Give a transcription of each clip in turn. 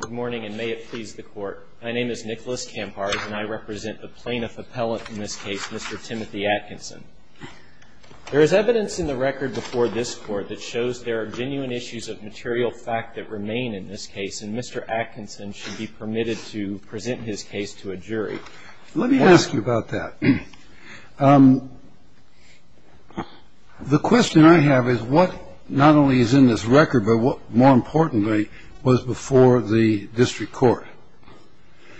Good morning, and may it please the Court. My name is Nicholas Kampard, and I represent the plaintiff appellant in this case, Mr. Timothy Atkinson. There is evidence in the record before this Court that shows there are genuine issues of material fact that remain in this case, and Mr. Atkinson should be permitted to present his case to a jury. Let me ask you about that. The question I have is what not only is in this record, but what, more importantly, was before the district court?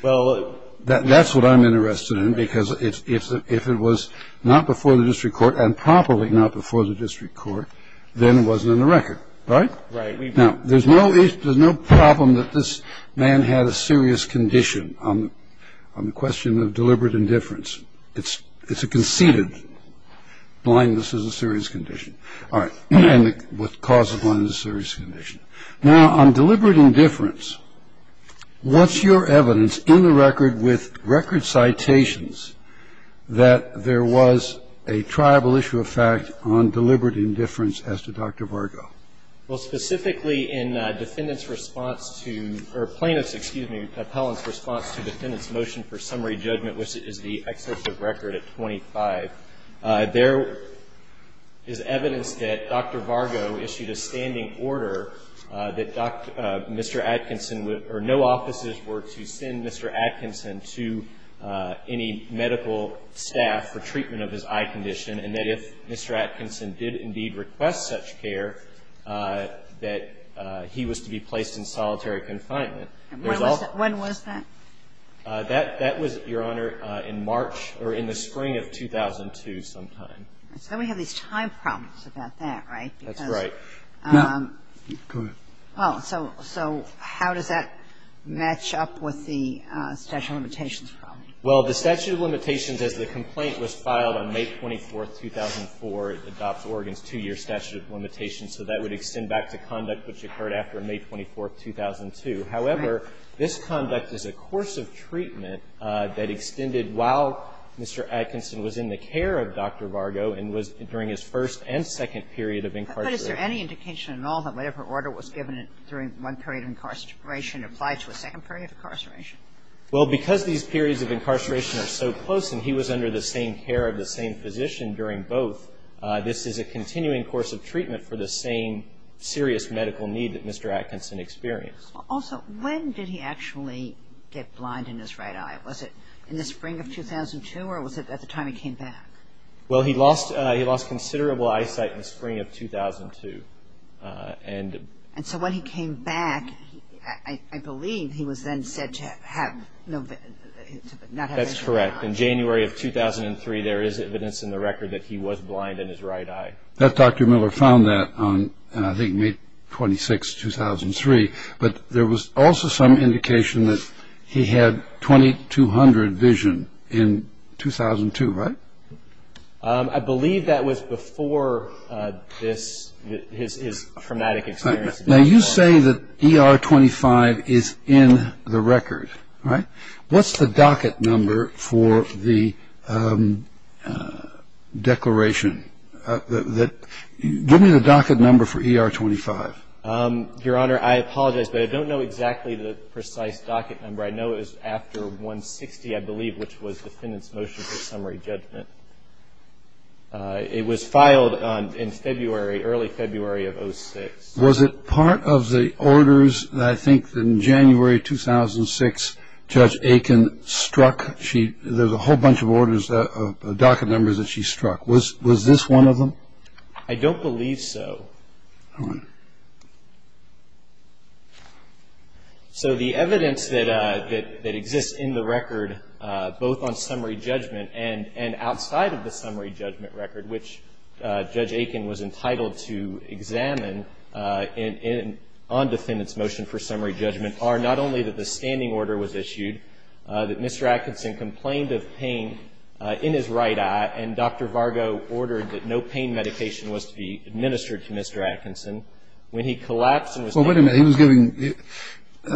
Well, that's what I'm interested in, because if it was not before the district court and probably not before the district court, then it wasn't in the record, right? Now, there's no issue, there's no problem that this man had a serious condition on the question of deliberate indifference. It's a conceded blindness is a serious condition. All right. And the cause of blindness is a serious condition. Now, on deliberate indifference, what's your evidence in the record with record citations that there was a tribal issue of fact on deliberate indifference as to Dr. Vargo? Well, specifically in defendant's response to, or plaintiff's, excuse me, appellant's response to defendant's motion for summary judgment, which is the excessive record at 25, there is evidence that Dr. Vargo issued a standing order that Mr. Atkinson would, or no offices were to send Mr. Atkinson to any medical staff for treatment of his eye condition, and that if Mr. Atkinson did indeed request such care, that he was to be placed in solitary confinement. When was that? That was, Your Honor, in March or in the spring of 2002 sometime. So we have these time problems about that, right? That's right. Go ahead. So how does that match up with the statute of limitations problem? Well, the statute of limitations, as the complaint was filed on May 24th, 2004, adopts Oregon's two-year statute of limitations, so that would extend back to conduct which occurred after May 24th, 2002. However, this conduct is a course of treatment that extended while Mr. Atkinson was in the care of Dr. Vargo and was during his first and second period of incarceration. But is there any indication at all that whatever order was given during one period of incarceration applied to a second period of incarceration? Well, because these periods of incarceration are so close, and he was under the same care of the same physician during both, this is a continuing course of treatment for the same serious medical need that Mr. Atkinson experienced. Also, when did he actually get blind in his right eye? Was it in the spring of 2002, or was it at the time he came back? And so when he came back, I believe he was then said to have no vision. That's correct. In January of 2003, there is evidence in the record that he was blind in his right eye. Dr. Miller found that on, I think, May 26th, 2003, but there was also some indication that he had 2200 vision in 2002, right? I believe that was before this, his traumatic experience. Now, you say that ER-25 is in the record, right? What's the docket number for the declaration? Give me the docket number for ER-25. Your Honor, I apologize, but I don't know exactly the precise docket number. I know it is after 160, I believe, which was the defendant's motion for summary judgment. It was filed in February, early February of 2006. Was it part of the orders, I think, in January 2006, Judge Aiken struck? There's a whole bunch of orders of docket numbers that she struck. Was this one of them? I don't believe so. Go ahead. So the evidence that exists in the record, both on summary judgment and outside of the summary judgment record, which Judge Aiken was entitled to examine on defendant's motion for summary judgment, are not only that the standing order was issued, that Mr. Atkinson complained of pain in his right eye, and Dr. Vargo ordered that no pain medication was to be administered to Mr. Atkinson. When he collapsed and was taken to the hospital. Well, wait a minute. He was giving,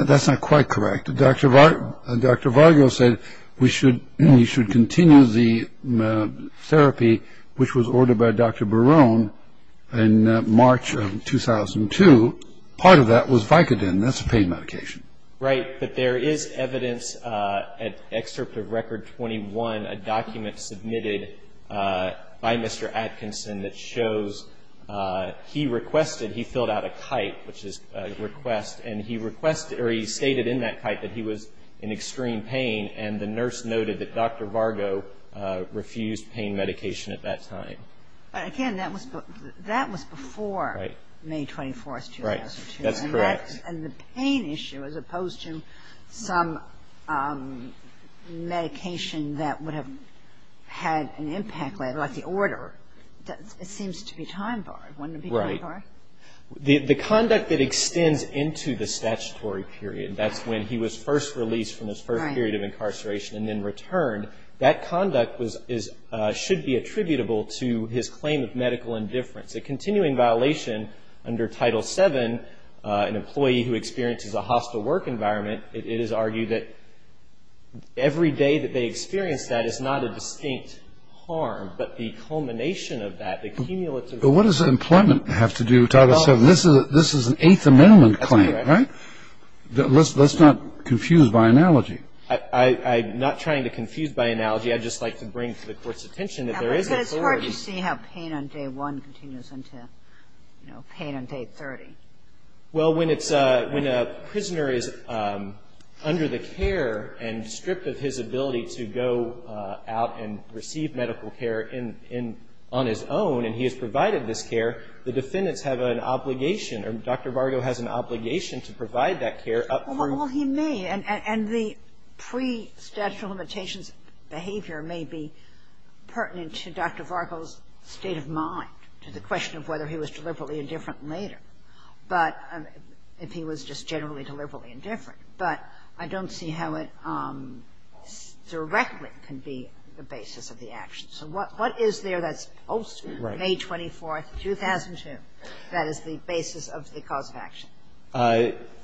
that's not quite correct. Dr. Vargo said we should, he should continue the therapy which was ordered by Dr. Barone in March of 2002. Part of that was Vicodin. That's a pain medication. Right. But there is evidence at excerpt of Record 21, a document submitted by Mr. Atkinson that shows he requested, he filled out a kite, which is a request, and he requested or he stated in that kite that he was in extreme pain, and the nurse noted that Dr. Vargo refused pain medication at that time. But again, that was before May 24th, 2002. That's correct. And the pain issue, as opposed to some medication that would have had an impact later, like the order, it seems to be time borrowed. Wouldn't it be time borrowed? Right. The conduct that extends into the statutory period, that's when he was first released from his first period of incarceration and then returned, that conduct should be attributable to his claim of medical indifference. A continuing violation under Title VII, an employee who experiences a hostile work environment, it is argued that every day that they experience that is not a distinct harm, but the culmination of that, the cumulative harm. But what does employment have to do with Title VII? This is an Eighth Amendment claim, right? That's correct. Let's not confuse by analogy. I'm not trying to confuse by analogy. I'd just like to bring to the Court's attention that there is authority. But you see how pain on day one continues into, you know, pain on day 30. Well, when a prisoner is under the care and stripped of his ability to go out and receive medical care on his own and he is provided this care, the defendants have an obligation or Dr. Vargo has an obligation to provide that care up through the... Well, he may. And the pre-statute of limitations behavior may be pertinent to Dr. Vargo's state of mind, to the question of whether he was deliberately indifferent later. But if he was just generally deliberately indifferent. But I don't see how it directly can be the basis of the action. So what is there that's post-May 24th, 2002, that is the basis of the cause of action?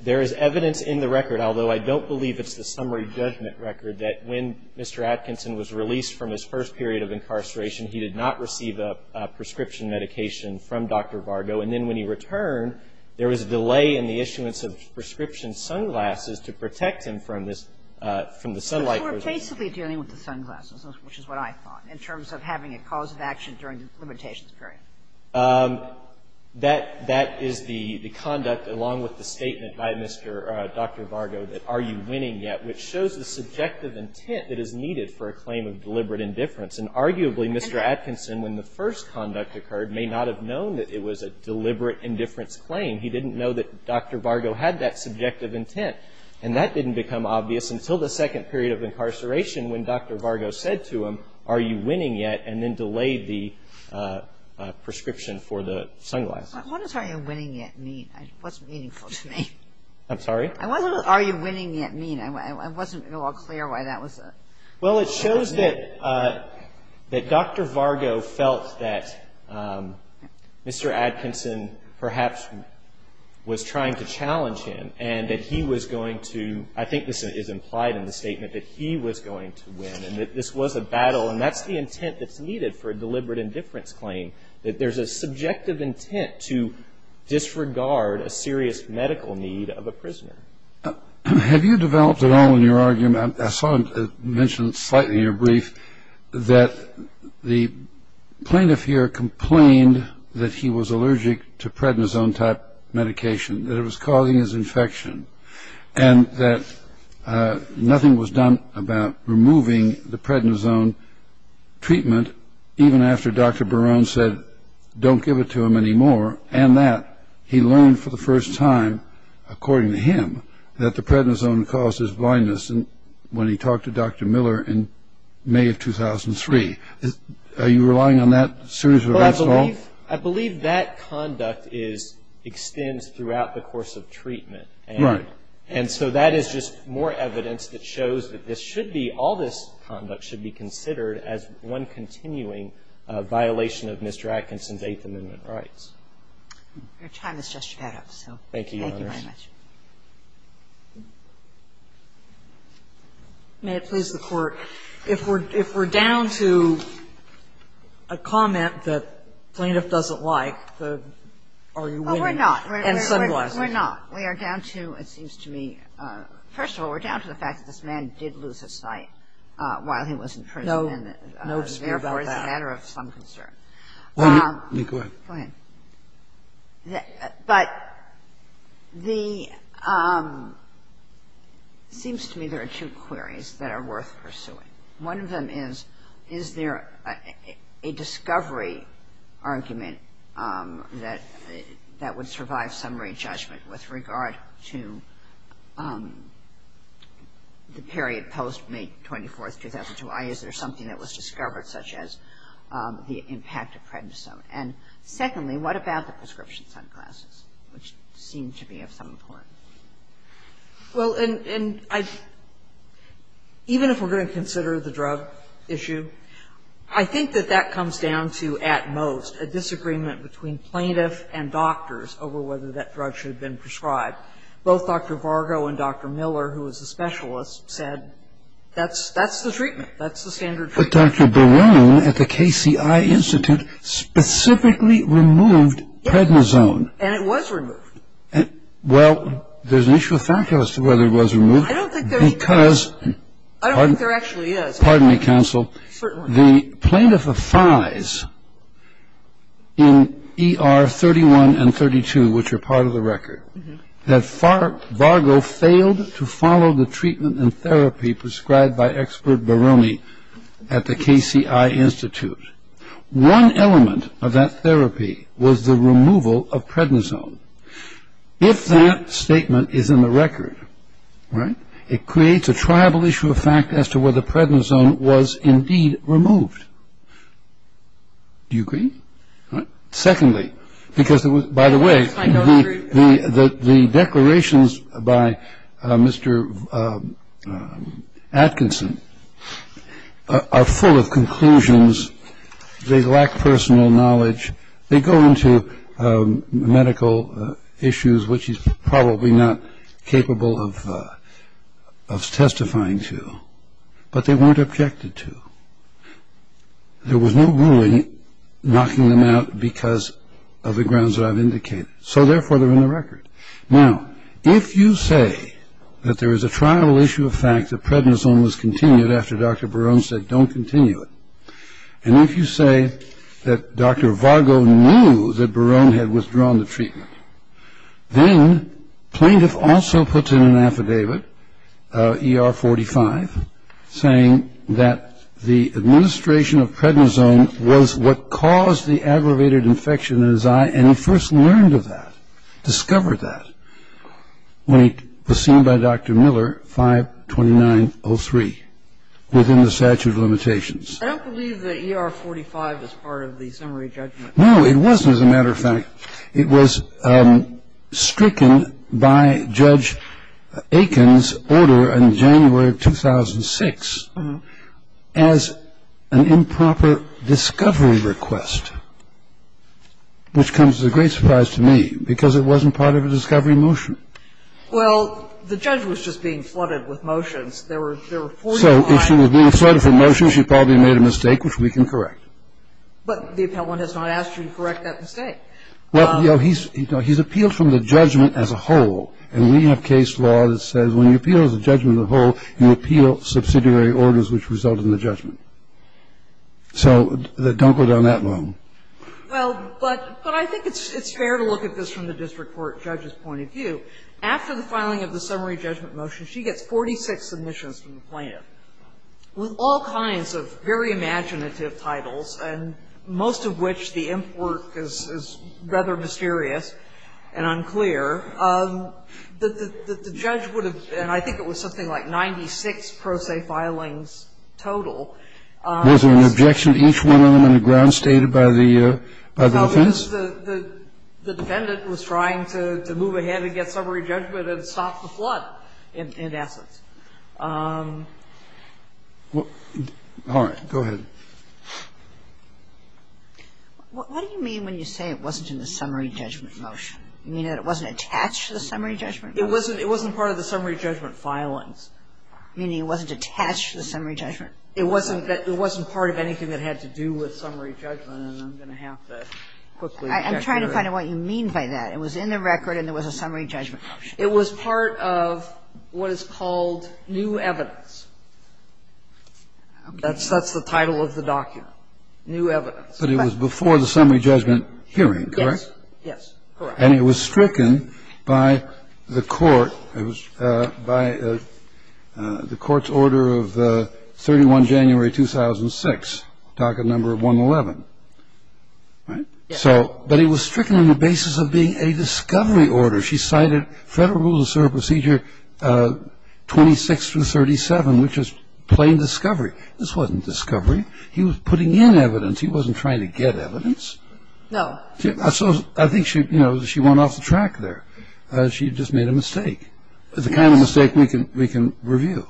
There is evidence in the record, although I don't believe it's the summary judgment record, that when Mr. Atkinson was released from his first period of incarceration, he did not receive a prescription medication from Dr. Vargo. And then when he returned, there was a delay in the issuance of prescription sunglasses to protect him from this, from the sunlight. But we're basically dealing with the sunglasses, which is what I thought, in terms of having a cause of action during the limitations period. That is the conduct, along with the statement by Mr. Dr. Vargo, that are you winning yet, which shows the subjective intent that is needed for a claim of deliberate indifference. And arguably, Mr. Atkinson, when the first conduct occurred, may not have known that it was a deliberate indifference claim. He didn't know that Dr. Vargo had that subjective intent. And that didn't become obvious until the second period of incarceration, when Dr. Vargo said to him, are you winning yet? And then delayed the prescription for the sunglasses. What does are you winning yet mean? It wasn't meaningful to me. I'm sorry? I wasn't, are you winning yet mean? I wasn't at all clear why that was a. Well, it shows that Dr. Vargo felt that Mr. Atkinson perhaps was trying to challenge him and that he was going to, I think this is implied in the statement, that he was going to win and that this was a battle. And that's the intent that's needed for a deliberate indifference claim, that there's a subjective intent to disregard a serious medical need of a prisoner. Have you developed at all in your argument, I saw it mentioned slightly in your brief, that the plaintiff here complained that he was allergic to prednisone type medication, that it was causing his infection. And that nothing was done about removing the prednisone treatment, even after Dr. Barone said, don't give it to him anymore. And that he learned for the first time, according to him, that the prednisone causes blindness when he talked to Dr. Miller in May of 2003. Are you relying on that series of events at all? I believe that conduct is, extends throughout the course of treatment. Right. And so that is just more evidence that shows that this should be, all this conduct should be considered as one continuing violation of Mr. Atkinson's Eighth Amendment rights. Your time has just run out. Thank you, Your Honor. Thank you very much. May it please the Court. If we're down to a comment that the plaintiff doesn't like, are you willing? Well, we're not. We're not. We are down to, it seems to me, first of all, we're down to the fact that this man did lose his sight while he was in prison. No dispute about that. And therefore, it's a matter of some concern. Go ahead. Go ahead. But the, it seems to me there are two queries that are worth pursuing. One of them is, is there a discovery argument that would survive summary judgment with regard to the period post-May 24th, 2002? Is there something that was discovered such as the impact of prednisone? And secondly, what about the prescription sunglasses, which seem to be of some importance? Well, and I, even if we're going to consider the drug issue, I think that that comes down to at most a disagreement between plaintiff and doctors over whether that drug should have been prescribed. Both Dr. Vargo and Dr. Miller, who was a specialist, said that's the treatment. That's the standard treatment. But Dr. Barone, at the KCI Institute, specifically removed prednisone. And it was removed. Well, there's an issue of factual as to whether it was removed. I don't think there's. Because. I don't think there actually is. Pardon me, counsel. Certainly. The plaintiff affides in ER 31 and 32, which are part of the record, that Vargo failed to follow the treatment and therapy prescribed by expert Barone at the KCI Institute. One element of that therapy was the removal of prednisone. If that statement is in the record, right, it creates a tribal issue of fact as to whether prednisone was indeed removed. Do you agree? Secondly, because, by the way, the declarations by Mr. Atkinson are full of conclusions. They lack personal knowledge. They go into medical issues, which he's probably not capable of testifying to. But they weren't objected to. There was no ruling knocking them out because of the grounds that I've indicated. So, therefore, they're in the record. Now, if you say that there is a tribal issue of fact, that prednisone was continued after Dr. Barone said don't continue it, and if you say that Dr. Vargo knew that Barone had withdrawn the treatment, then plaintiff also puts in an affidavit, ER-45, saying that the administration of prednisone was what caused the aggravated infection in his eye, and he first learned of that, discovered that, when it was seen by Dr. Miller, 5-2903, within the statute of limitations. I don't believe that ER-45 is part of the summary judgment. It was stricken by Judge Atkins' order in January of 2006 as an improper discovery request, which comes as a great surprise to me because it wasn't part of a discovery motion. Well, the judge was just being flooded with motions. There were 45. So if she was being flooded with motions, she probably made a mistake, which we can correct. But the appellant has not asked you to correct that mistake. Well, he's appealed from the judgment as a whole, and we have case law that says when you appeal as a judgment as a whole, you appeal subsidiary orders which result in the judgment. So don't go down that long. Well, but I think it's fair to look at this from the district court judge's point of view. After the filing of the summary judgment motion, she gets 46 submissions from the plaintiff with all kinds of very imaginative titles, and most of which the imp work is rather mysterious and unclear. The judge would have, and I think it was something like 96 pro se filings total. Was there an objection to each one of them on the ground stated by the defense? No, because the defendant was trying to move ahead and get summary judgment and stop the flood, in essence. All right. Go ahead. What do you mean when you say it wasn't in the summary judgment motion? You mean that it wasn't attached to the summary judgment motion? It wasn't part of the summary judgment filings. Meaning it wasn't attached to the summary judgment? It wasn't part of anything that had to do with summary judgment, and I'm going to have to quickly get to that. I'm trying to find out what you mean by that. It was in the record, and there was a summary judgment motion. It was part of what is called new evidence. That's the title of the document, new evidence. But it was before the summary judgment hearing, correct? Yes. Yes. Correct. And it was stricken by the court, by the court's order of 31 January 2006, docket number 111, right? Yes. But it was stricken on the basis of being a discovery order. She cited Federal Rules of Serial Procedure 26 through 37, which is plain discovery. This wasn't discovery. He was putting in evidence. He wasn't trying to get evidence. No. So I think she, you know, she went off the track there. She just made a mistake. The kind of mistake we can review.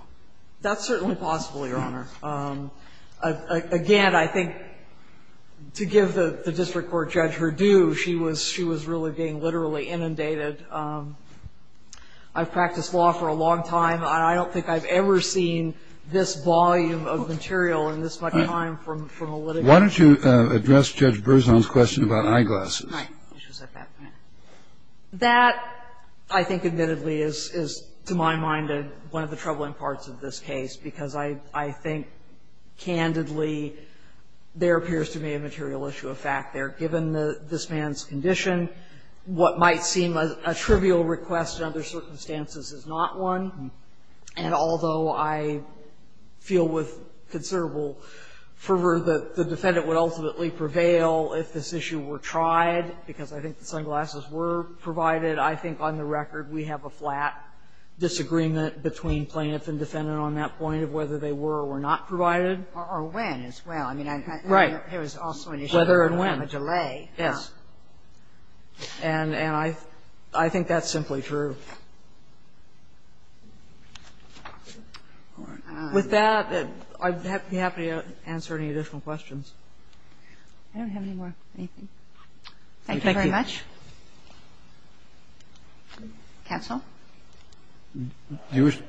That's certainly possible, Your Honor. Again, I think to give the district court judge her due, she was really being literally inundated. I've practiced law for a long time. I don't think I've ever seen this volume of material in this much time from a litigant. Why don't you address Judge Berzon's question about eyeglasses? That, I think, admittedly, is, to my mind, one of the troubling parts of this case, because I think, candidly, there appears to be a material issue of fact there. Given this man's condition, what might seem a trivial request in other circumstances is not one. And although I feel with considerable fervor that the defendant would ultimately prevail if this issue were tried, because I think the sunglasses were provided, I think on the record we have a flat disagreement between plaintiff and defendant on that point of whether they were or were not provided. Or when as well. Right. Whether and when. Whether and when. A delay. Yes. And I think that's simply true. All right. With that, I'd be happy to answer any additional questions. I don't have any more. Thank you very much. Thank you. Counsel? Thank you.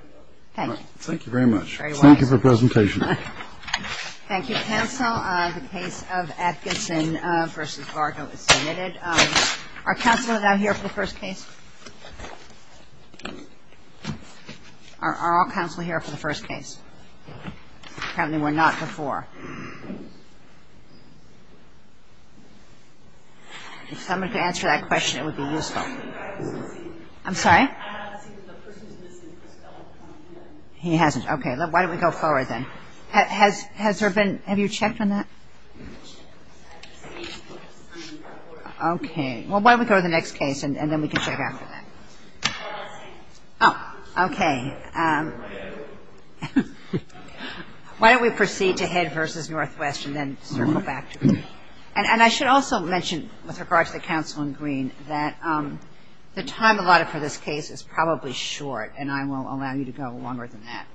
Thank you very much. Thank you for the presentation. Thank you, counsel. The case of Atkinson v. Vargo is submitted. Are counsel and I here for the first case? Are all counsel here for the first case? Apparently we're not before. If someone could answer that question, it would be useful. I'm sorry? He hasn't. Okay. Why don't we go forward then? Has there been ‑‑ have you checked on that? Okay. Well, why don't we go to the next case and then we can check after that. Oh, okay. Why don't we proceed to Head v. Northwest and then circle back. And I should also mention with regard to the counsel in green that the time allotted for this case is probably short, and I will allow you to go longer than that.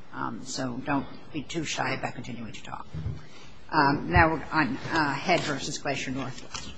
So don't be too shy about continuing to talk. Now on Head v. Glacier Northwest.